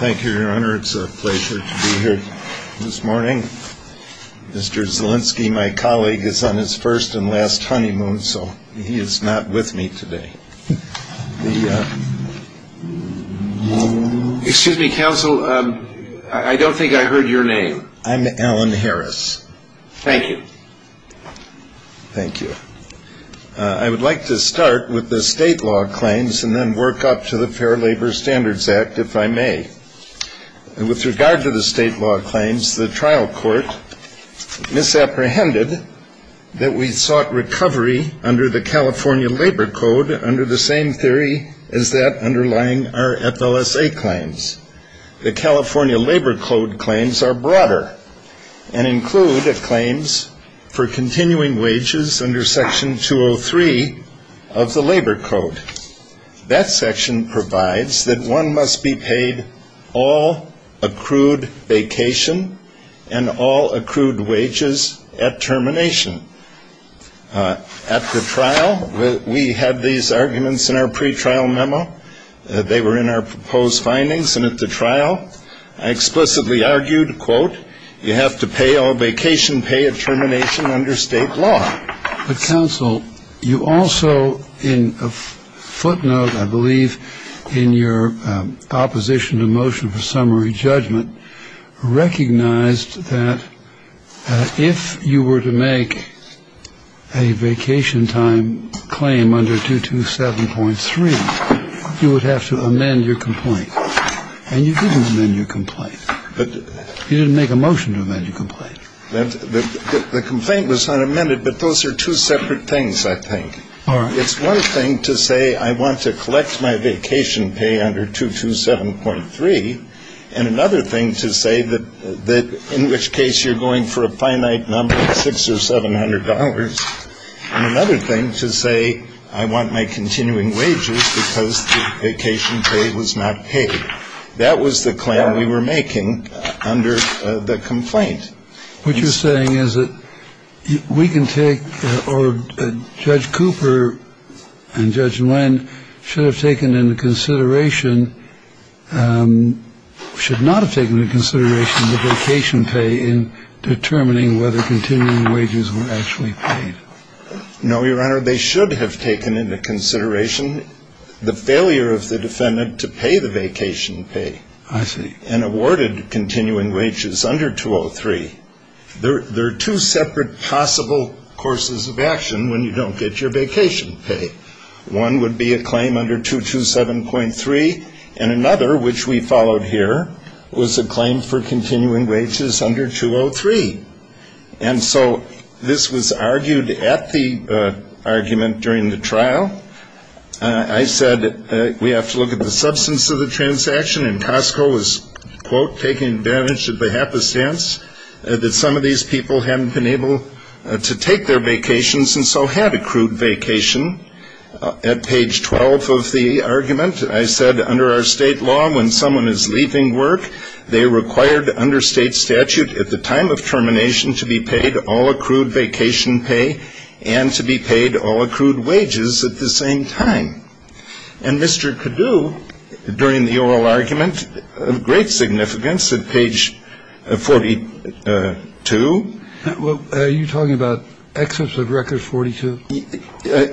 Thank you, your honor. It's a pleasure to be here this morning. Mr. Zielinski, my colleague, is on his first and last honeymoon, so he is not with me today. Excuse me, counsel, I don't think I heard your name. I'm Alan Harris. Thank you. Thank you. I would like to start with the state law claims and then work up to the Fair Labor Standards Act, if I may. With regard to the state law claims, the trial court misapprehended that we sought recovery under the California Labor Code under the same theory as that underlying our FLSA claims. The California Labor Code claims are broader and include claims for continuing wages under Section 203 of the Labor Code. That section provides that one must be paid all accrued vacation and all accrued wages at termination. At the trial, we had these arguments in our pretrial memo. They were in our proposed findings. And at the trial, I explicitly argued, quote, you have to pay all vacation pay at termination under state law. But, counsel, you also, in a footnote, I believe, in your opposition to motion for summary judgment, recognized that if you were to make a vacation time claim under 227.3, you would have to amend your complaint. And you didn't amend your complaint. You didn't make a motion to amend your complaint. The complaint was unamended, but those are two separate things, I think. It's one thing to say I want to collect my vacation pay under 227.3. And another thing to say that in which case you're going for a finite number of $600 or $700. And another thing to say I want my continuing wages because the vacation pay was not paid. That was the claim we were making under the complaint. What you're saying is that we can take or Judge Cooper and Judge Nguyen should have taken into consideration, should not have taken into consideration the vacation pay in determining whether continuing wages were actually paid. No, Your Honor. They should have taken into consideration the failure of the defendant to pay the vacation pay. I see. And awarded continuing wages under 203. There are two separate possible courses of action when you don't get your vacation pay. One would be a claim under 227.3. And another, which we followed here, was a claim for continuing wages under 203. And so this was argued at the argument during the trial. I said we have to look at the substance of the transaction. And Costco was, quote, taking advantage of the happenstance that some of these people hadn't been able to take their vacations and so had accrued vacation. At page 12 of the argument, I said under our state law when someone is leaving work, they required under state statute at the time of termination to be paid all accrued vacation pay and to be paid all accrued wages at the same time. And Mr. Cadoux, during the oral argument, of great significance at page 42. Well, are you talking about excerpts of record 42?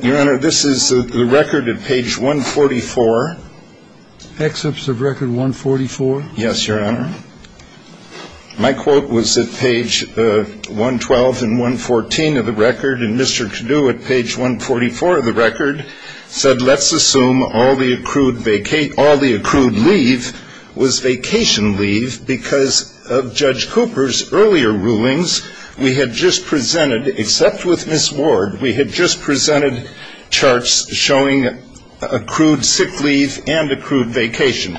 Your Honor, this is the record at page 144. Excerpts of record 144? Yes, Your Honor. My quote was at page 112 and 114 of the record. And Mr. Cadoux at page 144 of the record said let's assume all the accrued leave was vacation leave because of Judge Cooper's earlier rulings. We had just presented, except with Ms. Ward, we had just presented charts showing accrued sick leave and accrued vacation.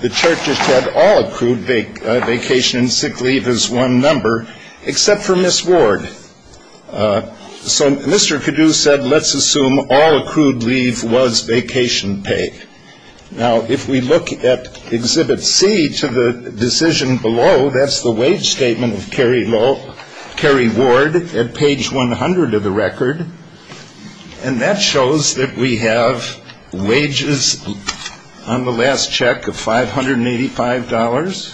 The chart just had all accrued vacation and sick leave as one number, except for Ms. Ward. So Mr. Cadoux said let's assume all accrued leave was vacation pay. Now, if we look at Exhibit C to the decision below, that's the wage statement of Kerry Ward at page 100 of the record. And that shows that we have wages on the last check of $585.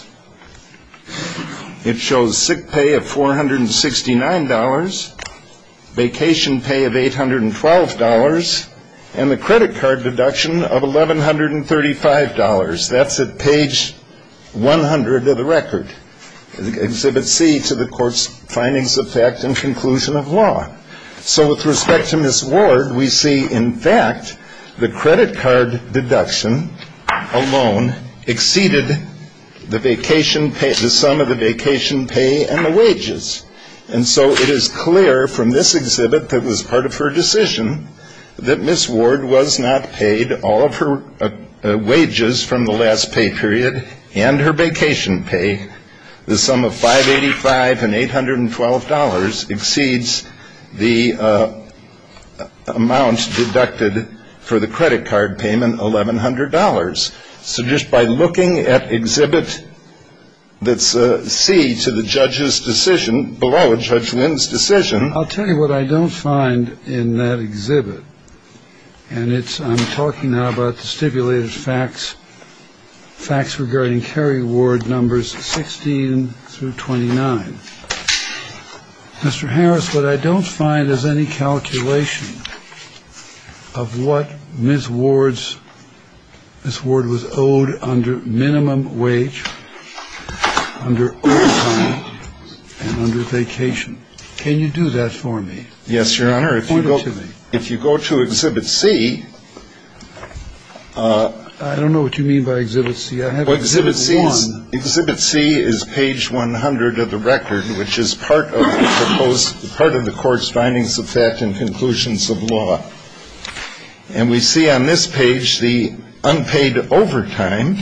It shows sick pay of $469, vacation pay of $812, and the credit card deduction of $1,135. That's at page 100 of the record. Exhibit C to the court's findings of fact and conclusion of law. So with respect to Ms. Ward, we see in fact the credit card deduction alone exceeded the vacation pay, the sum of the vacation pay and the wages. And so it is clear from this exhibit that was part of her decision that Ms. Ward was not paid all of her wages from the last pay period and her vacation pay. The sum of $585 and $812 exceeds the amount deducted for the credit card payment, $1,100. So just by looking at Exhibit C to the judge's decision below, Judge Wynn's decision. I'll tell you what I don't find in that exhibit. And it's I'm talking now about the stipulated facts regarding Carrie Ward numbers 16 through 29. Mr. Harris, what I don't find is any calculation of what Ms. Ward was owed under minimum wage, under overtime, and under vacation. Can you do that for me? Yes, Your Honor. If you go to Exhibit C. I don't know what you mean by Exhibit C. Exhibit C is page 100 of the record, which is part of the court's findings of fact and conclusions of law. And we see on this page the unpaid overtime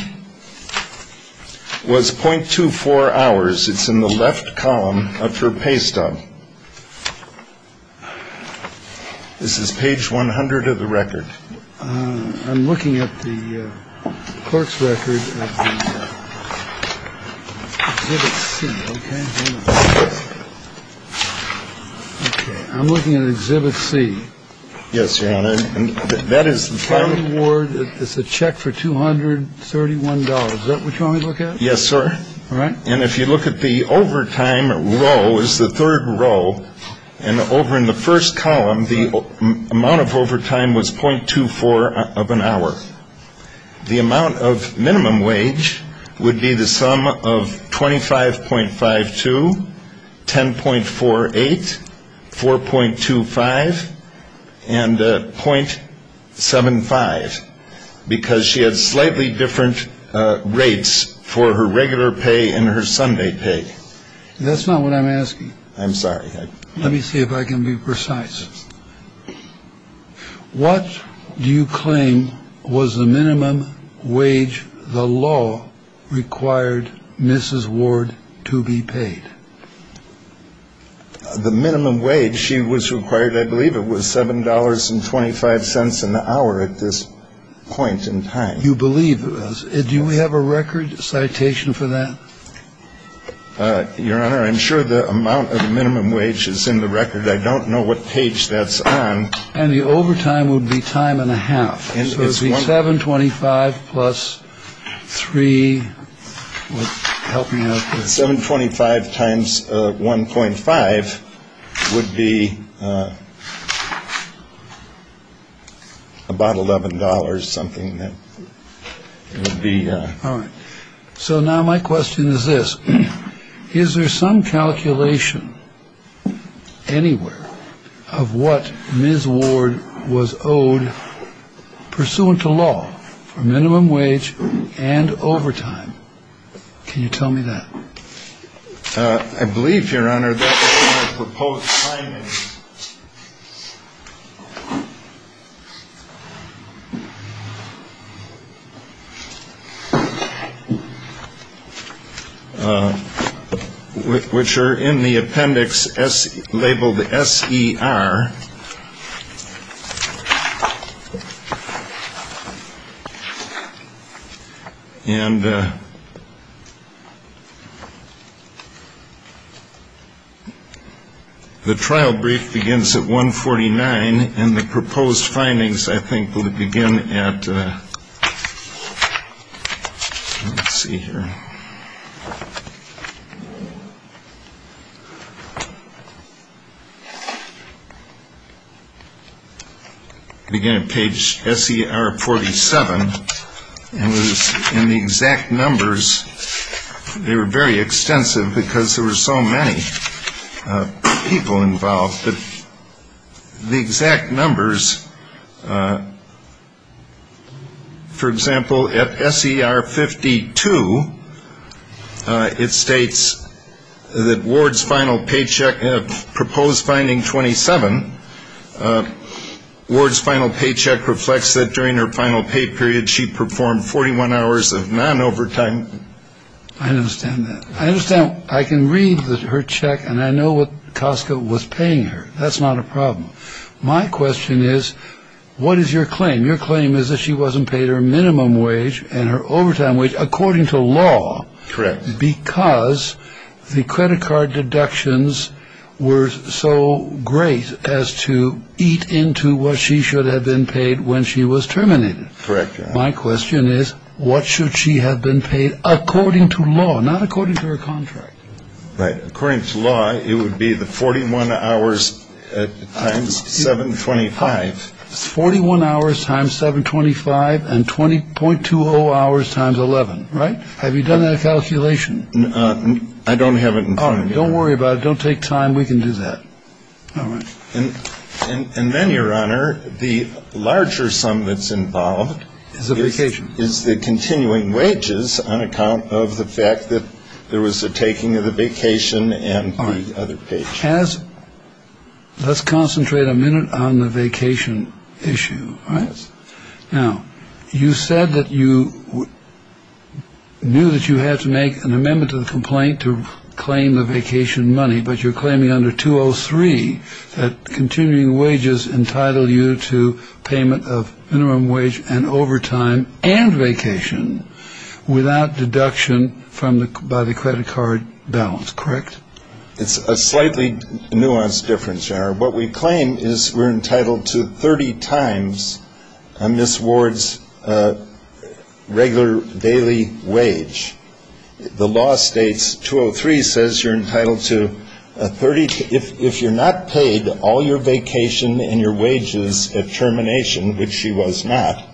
was .24 hours. It's in the left column of her pay stub. This is page 100 of the record. I'm looking at the clerk's record. I'm looking at Exhibit C. Yes, Your Honor. And that is the final word. It's a check for two hundred thirty one dollars. Is that what you want to look at? Yes, sir. All right. And if you look at the overtime row, it's the third row. And over in the first column, the amount of overtime was .24 of an hour. The amount of minimum wage would be the sum of 25.52, 10.48, 4.25, and .75. The minimum wage she was required, I believe it was seven dollars and twenty five cents an hour at this point. I'm sorry. Let me see if I can be precise. What do you claim was the minimum wage the law required Mrs. Ward to be paid? The minimum wage she was required, I believe it was seven dollars and twenty five cents an hour at this point in time. You believe it was. Do we have a record citation for that? Your Honor, I'm sure the amount of minimum wage is in the record. I don't know what page that's on. And the overtime would be time and a half. Twenty five plus three. Seven. Twenty five times one point five would be about eleven dollars. Something that would be. So now my question is this. Is there some calculation anywhere of what Ms. Ward was owed pursuant to law for minimum wage and overtime? Can you tell me that? Proposed. Which are in the appendix as labeled S.E.R. And. The trial brief begins at one forty nine and the proposed findings, I think, will begin at. Let's see here. Again, a page S.E.R. forty seven. It was in the exact numbers. They were very extensive because there were so many people involved. But the exact numbers. For example, at S.E.R. fifty two, it states that Ward's final paycheck proposed finding twenty seven. Ward's final paycheck reflects that during her final pay period, she performed forty one hours of non overtime. I understand that. I understand. I can read her check and I know what Costco was paying her. That's not a problem. My question is, what is your claim? Your claim is that she wasn't paid her minimum wage and her overtime wage according to law. Correct. Because the credit card deductions were so great as to eat into what she should have been paid when she was terminated. Correct. My question is, what should she have been paid according to law, not according to her contract? Right. According to law, it would be the forty one hours times seven. Forty one hours times seven. Twenty five and twenty point two hours times eleven. Right. Have you done that calculation? I don't have it. Don't worry about it. Don't take time. We can do that. All right. And then your honor, the larger sum that's involved is the vacation is the continuing wages on account of the fact that there was a taking of the vacation. As let's concentrate a minute on the vacation issue. All right. Now, you said that you knew that you had to make an amendment to the complaint to claim the vacation money. But you're claiming under 203 that continuing wages entitle you to payment of minimum wage and overtime and vacation without deduction from the by the credit card balance. Correct. It's a slightly nuanced difference. Our what we claim is we're entitled to 30 times on this ward's regular daily wage. The law states two or three says you're entitled to a 30 if you're not paid all your vacation and your wages at termination, which she was not.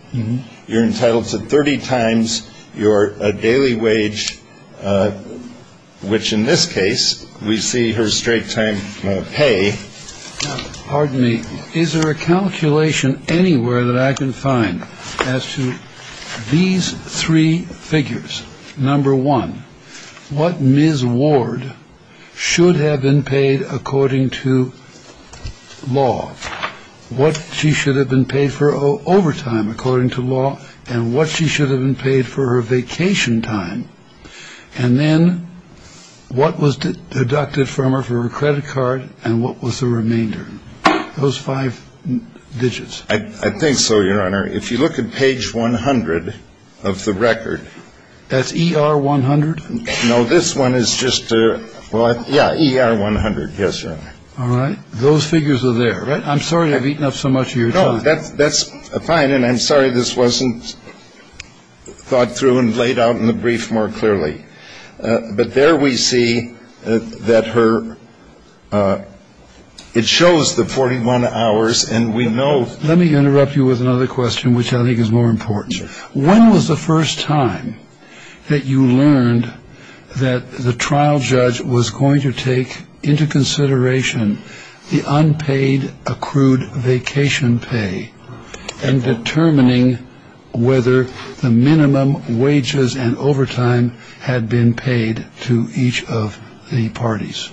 You're entitled to 30 times your daily wage, which in this case we see her straight time pay. Pardon me. Is there a calculation anywhere that I can find as to these three figures? Number one, what Ms. Ward should have been paid according to law, what she should have been paid for overtime according to law and what she should have been paid for her vacation time. And then what was deducted from her for her credit card and what was the remainder of those five digits? I think so, Your Honor. If you look at page 100 of the record. That's E.R. 100. No, this one is just. Well, yeah. E.R. 100. Yes, Your Honor. All right. Those figures are there. I'm sorry I've eaten up so much of your time. That's fine. And I'm sorry this wasn't thought through and laid out in the brief more clearly. But there we see that her it shows the 41 hours. And we know. Let me interrupt you with another question, which I think is more important. When was the first time that you learned that the trial judge was going to take into consideration the unpaid accrued vacation pay and determining whether the minimum wages and overtime had been paid to each of the parties?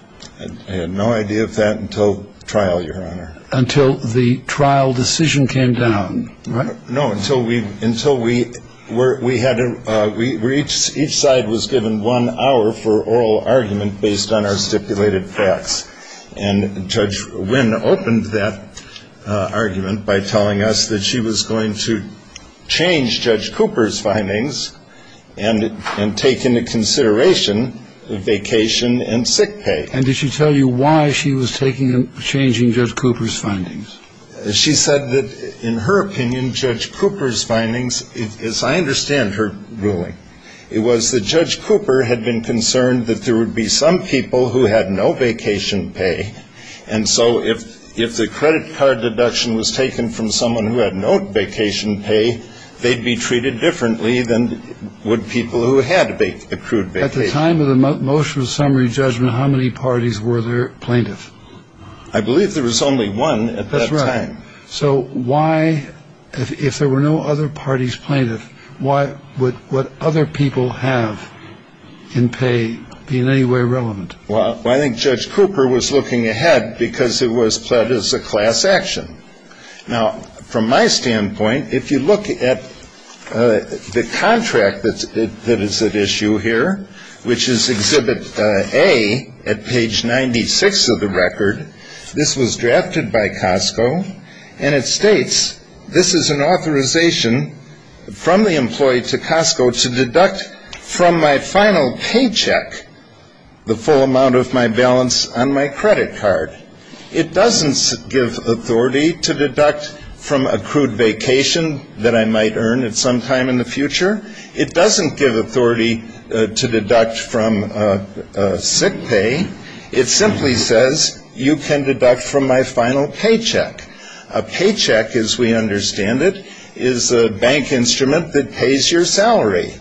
I had no idea of that until trial, Your Honor. Until the trial decision came down, right? No, until we each side was given one hour for oral argument based on our stipulated facts. And Judge Wynn opened that argument by telling us that she was going to change Judge Cooper's findings and take into consideration vacation and sick pay. And did she tell you why she was changing Judge Cooper's findings? She said that, in her opinion, Judge Cooper's findings, as I understand her ruling, it was that Judge Cooper had been concerned that there would be some people who had no vacation pay. And so if the credit card deduction was taken from someone who had no vacation pay, they'd be treated differently than would people who had accrued vacation. At the time of the motion of summary judgment, how many parties were there plaintiff? I believe there was only one at that time. That's right. So why, if there were no other parties plaintiff, why would what other people have in pay be in any way relevant? Well, I think Judge Cooper was looking ahead because it was pled as a class action. Now, from my standpoint, if you look at the contract that is at issue here, which is Exhibit A at page 96 of the record, this was drafted by Costco, and it states this is an authorization from the employee to Costco to deduct from my final paycheck the full amount of my balance on my credit card. It doesn't give authority to deduct from accrued vacation that I might earn at some time in the future. It doesn't give authority to deduct from sick pay. It simply says you can deduct from my final paycheck. A paycheck, as we understand it, is a bank instrument that pays your salary.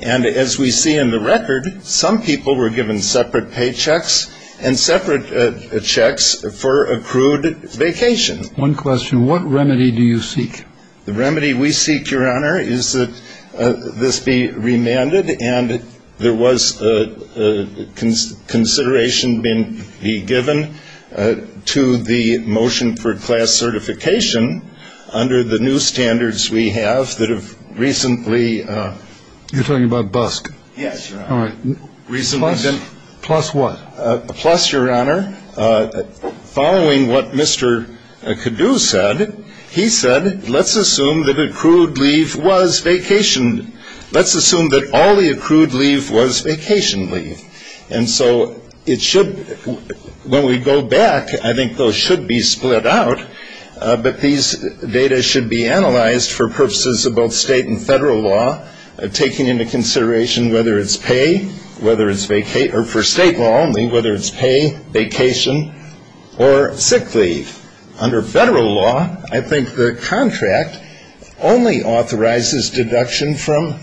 And as we see in the record, some people were given separate paychecks and separate checks for accrued vacation. One question. What remedy do you seek? The remedy we seek, Your Honor, is that this be remanded, and there was consideration to be given to the motion for class certification under the new standards we have that have recently. You're talking about BUSC? Yes, Your Honor. All right. Plus what? Plus, Your Honor, following what Mr. Caddo said, he said let's assume that accrued leave was vacation. Let's assume that all the accrued leave was vacation leave. And so it should, when we go back, I think those should be split out, but these data should be analyzed for purposes of both state and federal law, taking into consideration whether it's pay, whether it's for state law only, whether it's pay, vacation, or sick leave. Under federal law, I think the contract only authorizes deduction from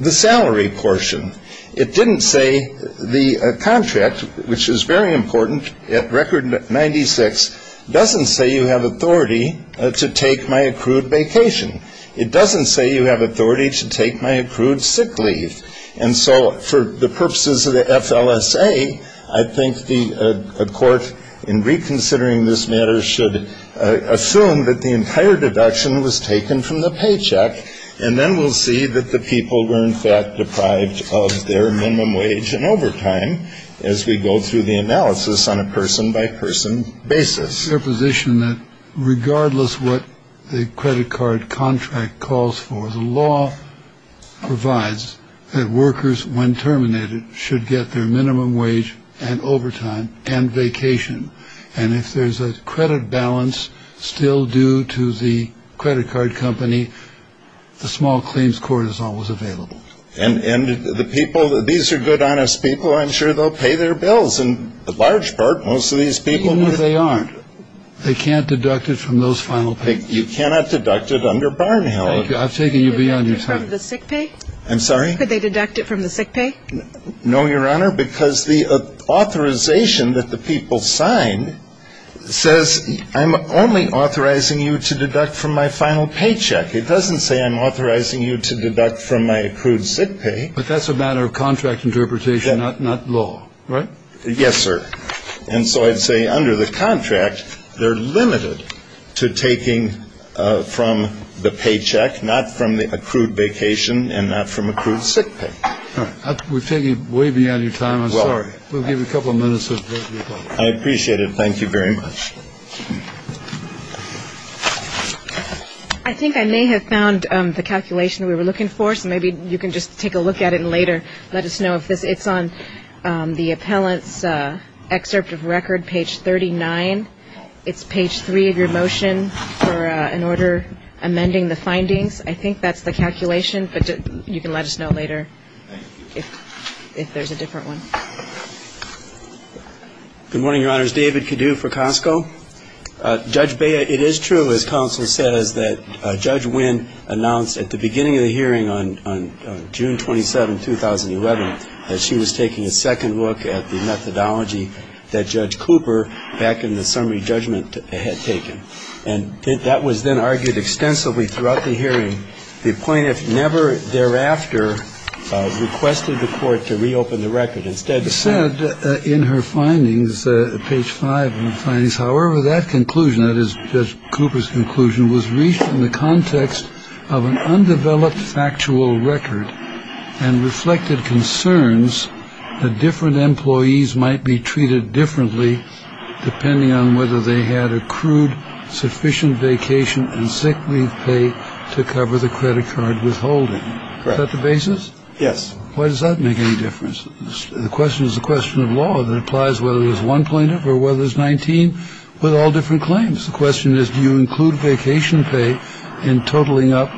the salary portion. It didn't say the contract, which is very important, at Record 96, doesn't say you have authority to take my accrued vacation. It doesn't say you have authority to take my accrued sick leave. And so for the purposes of the FLSA, I think the court, in reconsidering this matter, should assume that the entire deduction was taken from the paycheck, and then we'll see that the people were, in fact, deprived of their minimum wage and overtime as we go through the analysis on a person-by-person basis. It's their position that regardless what the credit card contract calls for, the law provides that workers, when terminated, should get their minimum wage and overtime and vacation. And if there's a credit balance still due to the credit card company, the small claims court is always available. And the people, these are good, honest people. I'm sure they'll pay their bills. In large part, most of these people will. Even if they aren't, they can't deduct it from those final paychecks? You cannot deduct it under Barnhill. Thank you. I've taken you beyond your time. Could they deduct it from the sick pay? I'm sorry? Could they deduct it from the sick pay? No, Your Honor, because the authorization that the people signed says, I'm only authorizing you to deduct from my final paycheck. It doesn't say I'm authorizing you to deduct from my accrued sick pay. But that's a matter of contract interpretation, not law, right? Yes, sir. And so I'd say under the contract, they're limited to taking from the paycheck, not from the accrued vacation and not from accrued sick pay. All right. We've taken you way beyond your time. I'm sorry. We'll give you a couple of minutes of your time. I appreciate it. Thank you very much. I think I may have found the calculation we were looking for, so maybe you can just take a look at it later. Let us know if it's on the appellant's excerpt of record, page 39. It's page 3 of your motion for an order amending the findings. I think that's the calculation, but you can let us know later if there's a different one. Good morning, Your Honors. David Cadue for Costco. Judge Bea, it is true, as counsel says, that Judge Wynn announced at the beginning of the hearing on June 27, 2011, that she was taking a second look at the methodology that Judge Cooper, back in the summary judgment, had taken. And that was then argued extensively throughout the hearing. The plaintiff never thereafter requested the court to reopen the record. Instead, it said in her findings, page 5 of the findings, however, that conclusion, that is Judge Cooper's conclusion, was reached in the context of an undeveloped factual record and reflected concerns that different employees might be treated differently depending on whether they had accrued sufficient vacation and sick leave pay to cover the credit card withholding. Is that the basis? Yes. Why does that make any difference? The question is the question of law that applies whether there's one plaintiff or whether there's 19 with all different claims. The question is do you include vacation pay in totaling up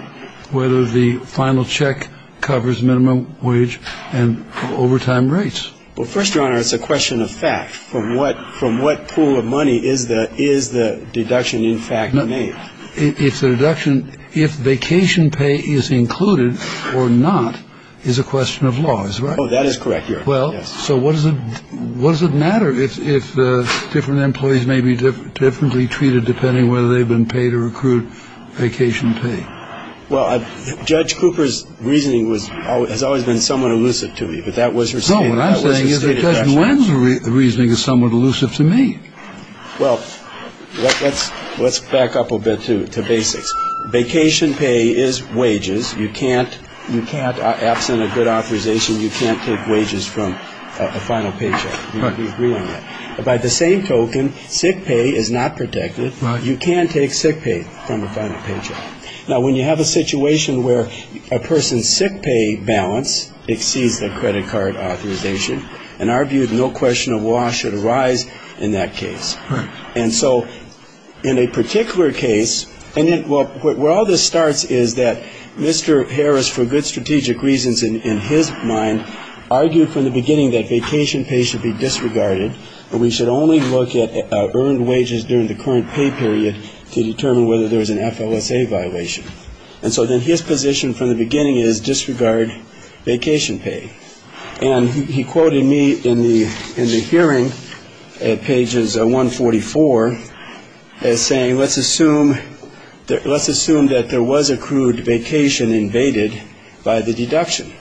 whether the final check covers minimum wage and overtime rates. Well, first, Your Honor, it's a question of fact. From what pool of money is the deduction, in fact, made? It's a deduction if vacation pay is included or not is a question of law. Oh, that is correct, Your Honor. Well, so what does it matter if different employees may be differently treated depending on whether they've been paid or accrued vacation pay? Well, Judge Cooper's reasoning has always been somewhat elusive to me, but that was her statement. No, what I'm saying is that Judge Nguyen's reasoning is somewhat elusive to me. Well, let's back up a bit to basics. Vacation pay is wages. You can't, absent a good authorization, you can't take wages from a final paycheck. We agree on that. By the same token, sick pay is not protected. You can't take sick pay from a final paycheck. Now, when you have a situation where a person's sick pay balance exceeds their credit card authorization, in our view, no question of law should arise in that case. Right. And so in a particular case, and where all this starts is that Mr. Harris, for good strategic reasons, in his mind, argued from the beginning that vacation pay should be disregarded and we should only look at earned wages during the current pay period to determine whether there was an FLSA violation. And so then his position from the beginning is disregard vacation pay. And he quoted me in the hearing at pages 144 as saying, let's assume that there was accrued vacation invaded by the deduction.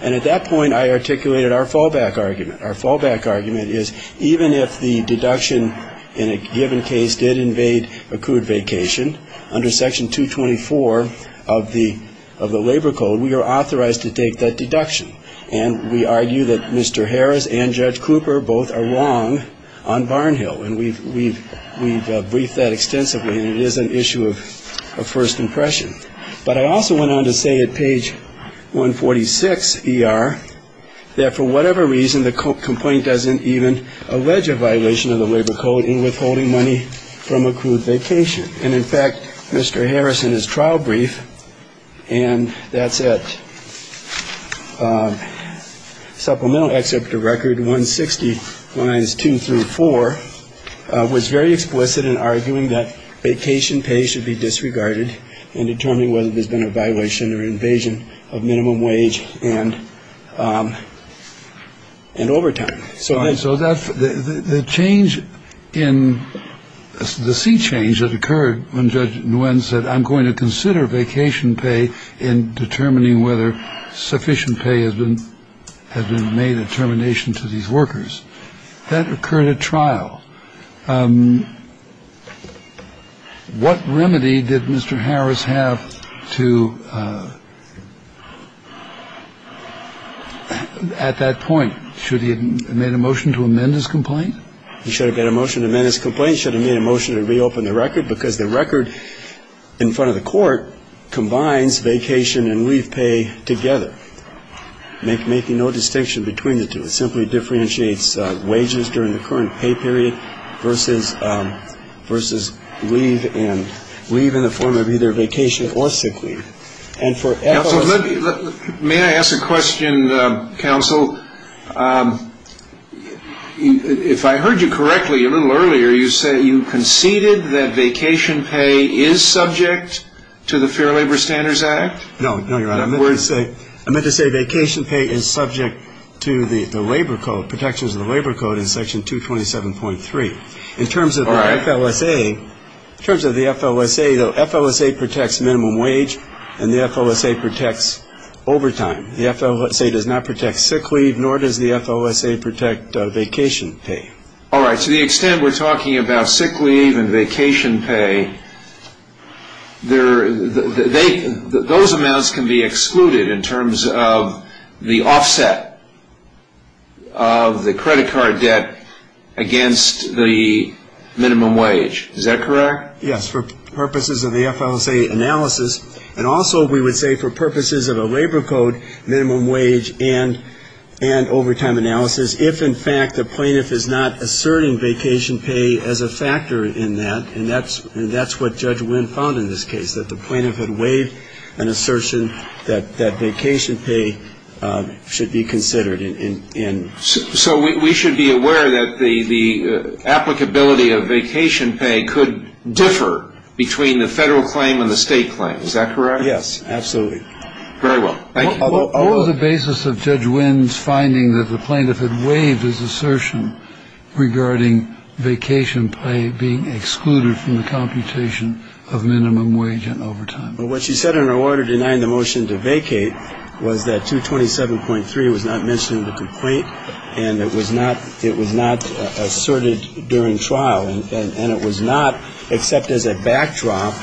And at that point, I articulated our fallback argument. Our fallback argument is even if the deduction in a given case did invade accrued vacation, under Section 224 of the Labor Code, we are authorized to take that deduction. And we argue that Mr. Harris and Judge Cooper both are wrong on Barnhill. And we've briefed that extensively. And it is an issue of first impression. But I also went on to say at page 146ER that for whatever reason, the complaint doesn't even allege a violation of the Labor Code in withholding money from accrued vacation. And in fact, Mr. Harris in his trial brief. And that's it. Supplemental except a record 160 minus two through four was very explicit in arguing that vacation pay should be disregarded and determining whether there's been a violation or invasion of minimum wage and and overtime. So that's the change in the sea change that occurred when Judge Nguyen said, I'm going to consider vacation pay in determining whether sufficient pay has been has been made a termination to these workers. That occurred at trial. What remedy did Mr. Harris have to at that point? Should he have made a motion to amend his complaint? He should have made a motion to amend his complaint. He should have made a motion to reopen the record because the record in front of the court combines vacation and leave pay together, making no distinction between the two. It simply differentiates wages during the current pay period versus versus leave and leave in the form of either vacation or sick leave. And for me, I ask a question, counsel. If I heard you correctly, a little earlier, you say you conceded that vacation pay is subject to the Fair Labor Standards Act. I meant to say vacation pay is subject to the Labor Code protections of the Labor Code in Section 227.3. In terms of the FLSA, the FLSA protects minimum wage and the FLSA protects overtime. The FLSA does not protect sick leave, nor does the FLSA protect vacation pay. All right. To the extent we're talking about sick leave and vacation pay. Those amounts can be excluded in terms of the offset of the credit card debt against the minimum wage. Is that correct? Yes, for purposes of the FLSA analysis. And also we would say for purposes of a Labor Code minimum wage and overtime analysis. If in fact the plaintiff is not asserting vacation pay as a factor in that, and that's what Judge Wynn found in this case, that the plaintiff had waived an assertion that vacation pay should be considered. So we should be aware that the applicability of vacation pay could differ between the federal claim and the state claim. Is that correct? Yes, absolutely. Very well. What was the basis of Judge Wynn's finding that the plaintiff had waived his assertion regarding vacation pay being excluded from the computation of minimum wage and overtime? Well, what she said in her order denying the motion to vacate was that 227.3 was not mentioning the complaint. And it was not it was not asserted during trial. And it was not accepted as a backdrop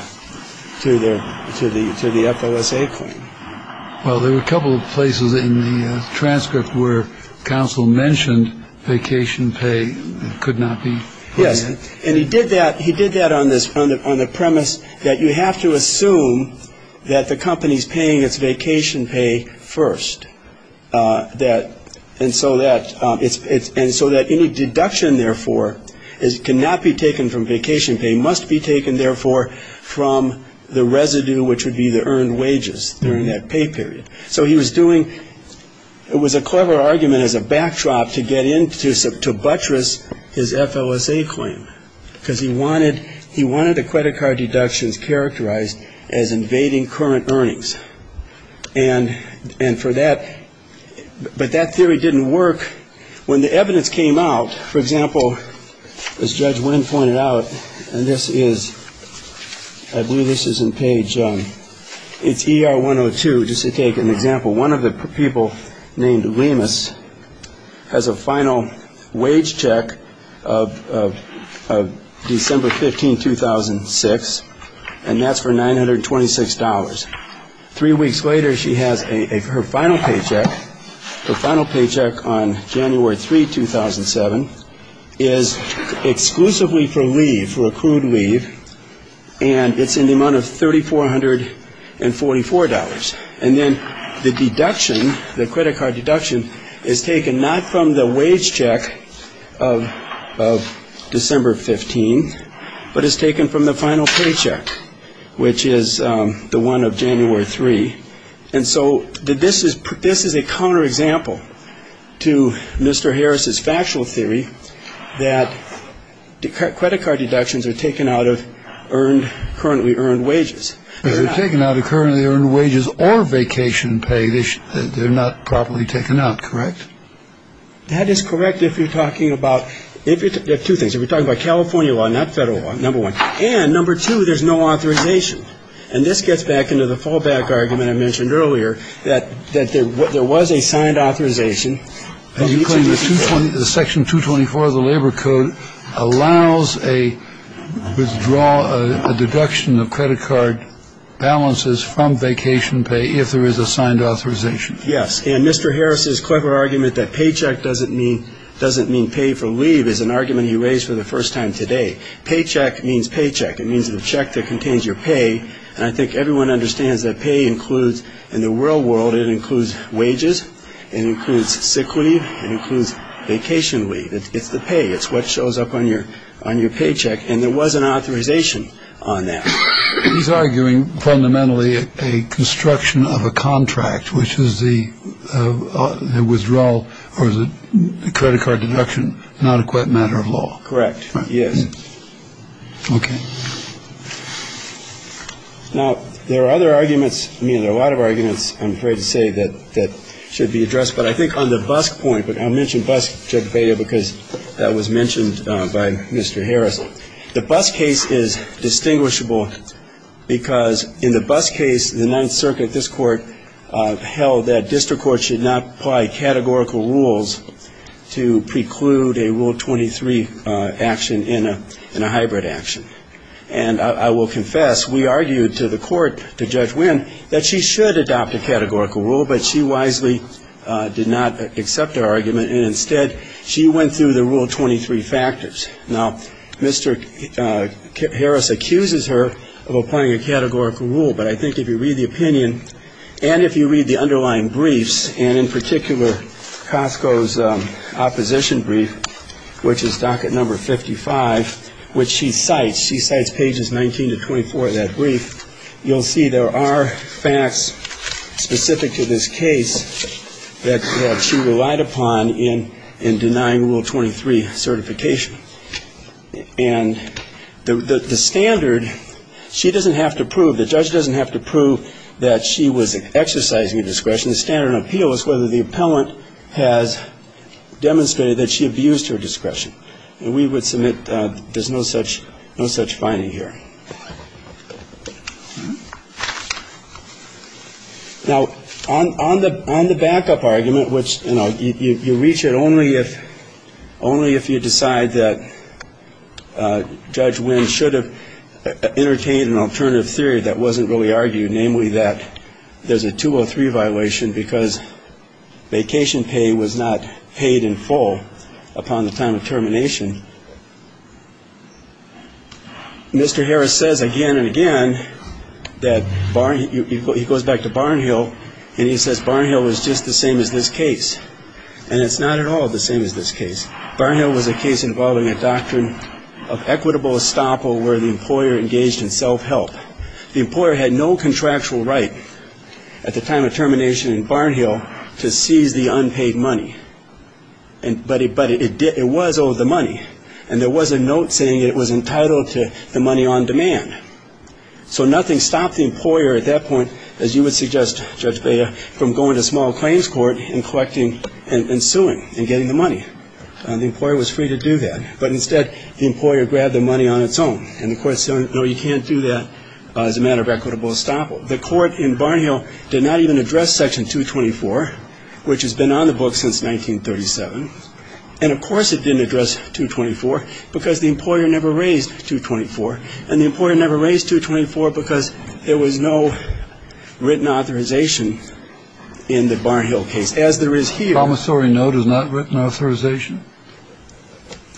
to the to the to the FLSA claim. Well, there were a couple of places in the transcript where counsel mentioned vacation pay could not be. Yes. And he did that. He did that on this on the premise that you have to assume that the company's paying its vacation pay first that. And so that it's and so that any deduction, therefore, is cannot be taken from vacation. Pay must be taken, therefore, from the residue, which would be the earned wages during that pay period. So he was doing it was a clever argument as a backdrop to get into to buttress his FLSA claim because he wanted he wanted a credit card deductions characterized as invading current earnings. And and for that. But that theory didn't work when the evidence came out. For example, as Judge Wynn pointed out, and this is I believe this is in page. It's E.R. one or two. Just to take an example. One of the people named Lemus has a final wage check of December 15, 2006, and that's for nine hundred twenty six dollars. Three weeks later, she has a her final paycheck, her final paycheck on January 3, 2007, is exclusively for leave for accrued leave. And it's in the amount of thirty four hundred and forty four dollars. And then the deduction, the credit card deduction is taken not from the wage check of of December 15, but is taken from the final paycheck, which is the one of January three. And so did this is this is a counter example to Mr. Harris's factual theory that credit card deductions are taken out of earned currently earned wages taken out of currently earned wages or vacation pay. They're not properly taken out. Correct. That is correct. If you're talking about two things, if you're talking about California law, not federal law, number one and number two, there's no authorization. And this gets back into the fallback argument I mentioned earlier that that there was a signed authorization. Section 224 of the Labor Code allows a withdrawal, a deduction of credit card balances from vacation pay if there is a signed authorization. Yes. And Mr. Harris's clever argument that paycheck doesn't mean doesn't mean pay for leave is an argument he raised for the first time today. Paycheck means paycheck. It means the check that contains your pay. And I think everyone understands that pay includes in the real world. It includes wages and includes sick leave and includes vacation leave. It's the pay. It's what shows up on your on your paycheck. And there was an authorization on that. He's arguing fundamentally a construction of a contract, which is the withdrawal or the credit card deduction. Not quite matter of law. Correct. Yes. OK. Now, there are other arguments. I mean, there are a lot of arguments, I'm afraid to say, that that should be addressed. But I think on the bus point, but I mentioned bus check failure because that was mentioned by Mr. Harris. The bus case is distinguishable because in the bus case, the Ninth Circuit, this court, held that district courts should not apply categorical rules to preclude a Rule 23 action in a hybrid action. And I will confess, we argued to the court, to Judge Winn, that she should adopt a categorical rule, but she wisely did not accept our argument. And instead, she went through the Rule 23 factors. Now, Mr. Harris accuses her of applying a categorical rule. But I think if you read the opinion and if you read the underlying briefs, and in particular, Costco's opposition brief, which is docket number 55, which she cites, she cites pages 19 to 24 of that brief. You'll see there are facts specific to this case that she relied upon in denying Rule 23 certification. And the standard, she doesn't have to prove, the judge doesn't have to prove that she was exercising a discretion. The standard of appeal is whether the appellant has demonstrated that she abused her discretion. And we would submit there's no such finding here. Now, on the backup argument, which you reach it only if you decide that Judge Winn should have entertained an alternative theory that wasn't really argued, namely that there's a 203 violation because vacation pay was not paid in full upon the time of termination, Mr. Harris says again and again that he goes back to Barnhill and he says Barnhill is just the same as this case. And it's not at all the same as this case. Barnhill was a case involving a doctrine of equitable estoppel where the employer engaged in self-help. The employer had no contractual right at the time of termination in Barnhill to seize the unpaid money. But it was owed the money. And there was a note saying it was entitled to the money on demand. So nothing stopped the employer at that point, as you would suggest, Judge Bea, from going to small claims court and collecting and suing and getting the money. The employer was free to do that. But instead, the employer grabbed the money on its own. And the court said, no, you can't do that as a matter of equitable estoppel. So the court in Barnhill did not even address Section 224, which has been on the book since 1937. And, of course, it didn't address 224 because the employer never raised 224. And the employer never raised 224 because there was no written authorization in the Barnhill case. As there is here. Promissory note is not written authorization.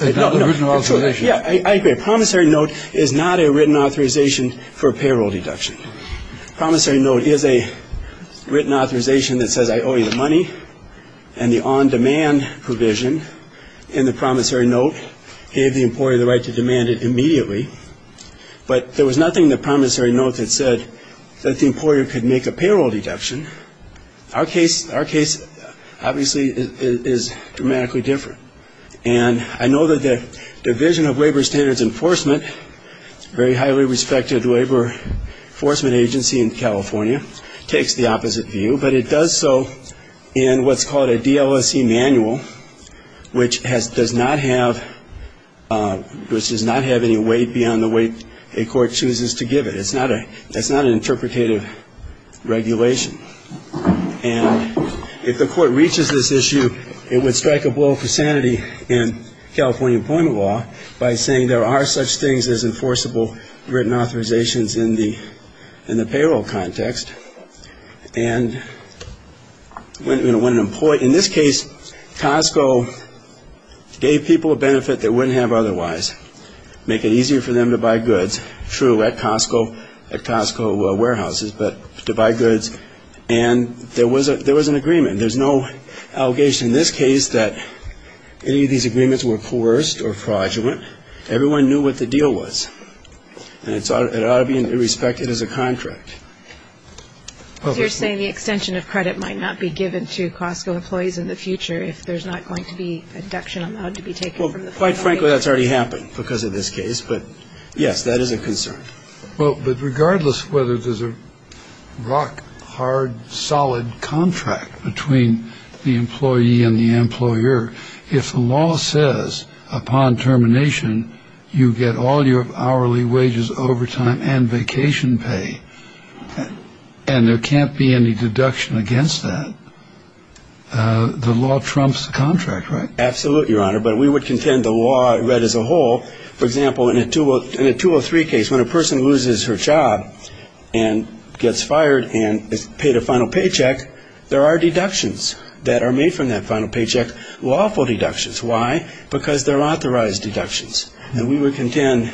Yeah, I agree. Promissory note is not a written authorization for payroll deduction. Promissory note is a written authorization that says I owe you the money. And the on demand provision in the promissory note gave the employer the right to demand it immediately. But there was nothing in the promissory note that said that the employer could make a payroll deduction. Our case, obviously, is dramatically different. And I know that the Division of Labor Standards Enforcement, a very highly respected labor enforcement agency in California, takes the opposite view. But it does so in what's called a DLSE manual, which does not have any weight beyond the weight a court chooses to give it. It's not an interpretative regulation. And if the court reaches this issue, it would strike a blow for sanity in California employment law by saying there are such things as enforceable written authorizations in the payroll context. And when an employer, in this case, Costco gave people a benefit they wouldn't have otherwise, make it easier for them to buy goods. That's true at Costco, at Costco warehouses, but to buy goods. And there was an agreement. There's no allegation in this case that any of these agreements were coerced or fraudulent. Everyone knew what the deal was. And it ought to be respected as a contract. You're saying the extension of credit might not be given to Costco employees in the future if there's not going to be a deduction allowed to be taken. Well, quite frankly, that's already happened because of this case. But, yes, that is a concern. But regardless of whether there's a rock hard, solid contract between the employee and the employer, if the law says upon termination, you get all your hourly wages, overtime and vacation pay, and there can't be any deduction against that, the law trumps the contract, right? Absolutely, Your Honor. But we would contend the law read as a whole. For example, in a 203 case, when a person loses her job and gets fired and is paid a final paycheck, there are deductions that are made from that final paycheck, lawful deductions. Why? Because they're authorized deductions. And we would contend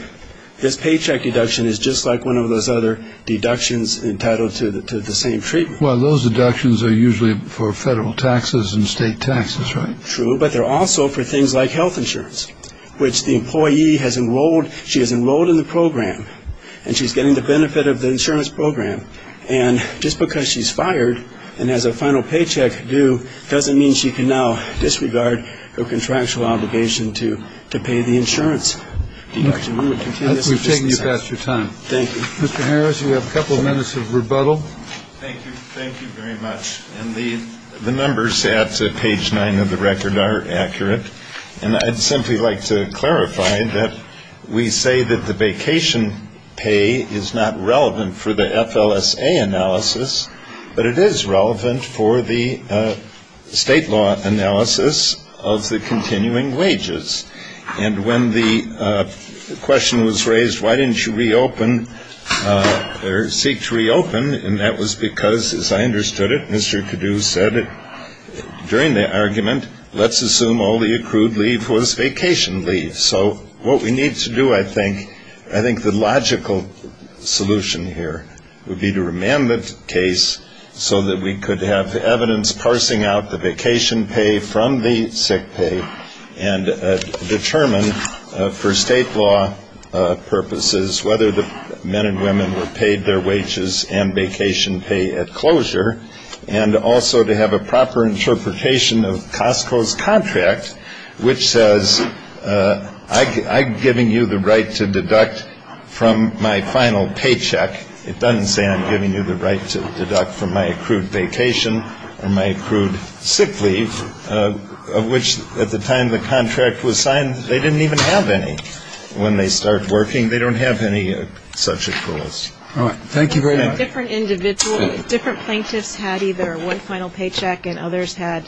this paycheck deduction is just like one of those other deductions entitled to the same treatment. Well, those deductions are usually for federal taxes and state taxes, right? True, but they're also for things like health insurance, which the employee has enrolled. She is enrolled in the program, and she's getting the benefit of the insurance program. And just because she's fired and has a final paycheck due doesn't mean she can now disregard her contractual obligation to pay the insurance deduction. We would contend this is just the same. We've taken you past your time. Thank you. Mr. Harris, you have a couple of minutes of rebuttal. Thank you. Thank you very much. And the numbers at page nine of the record are accurate. And I'd simply like to clarify that we say that the vacation pay is not relevant for the FLSA analysis, but it is relevant for the state law analysis of the continuing wages. And when the question was raised, why didn't you reopen or seek to reopen, and that was because, as I understood it, Mr. Cadoux said, during the argument, let's assume all the accrued leave was vacation leave. So what we need to do, I think, I think the logical solution here would be to remand the case so that we could have evidence parsing out the vacation pay from the sick pay and determine for state law purposes whether the men and women were paid their wages and vacation pay at closure, and also to have a proper interpretation of Costco's contract, which says I'm giving you the right to deduct from my final paycheck. It doesn't say I'm giving you the right to deduct from my accrued vacation or my accrued sick leave, which at the time the contract was signed, they didn't even have any. When they start working, they don't have any such accruals. All right. Thank you very much. Different individuals, different plaintiffs had either one final paycheck and others had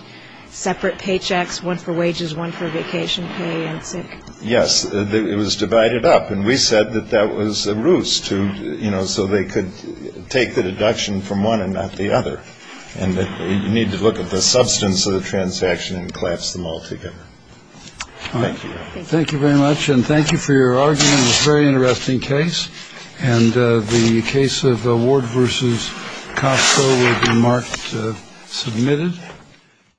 separate paychecks, one for wages, one for vacation pay and sick. Yes. It was divided up. And we said that that was a ruse to, you know, so they could take the deduction from one and not the other. And you need to look at the substance of the transaction and collapse them all together. Thank you. Thank you very much. And thank you for your argument on this very interesting case. And the case of Ward v. Costco will be marked submitted.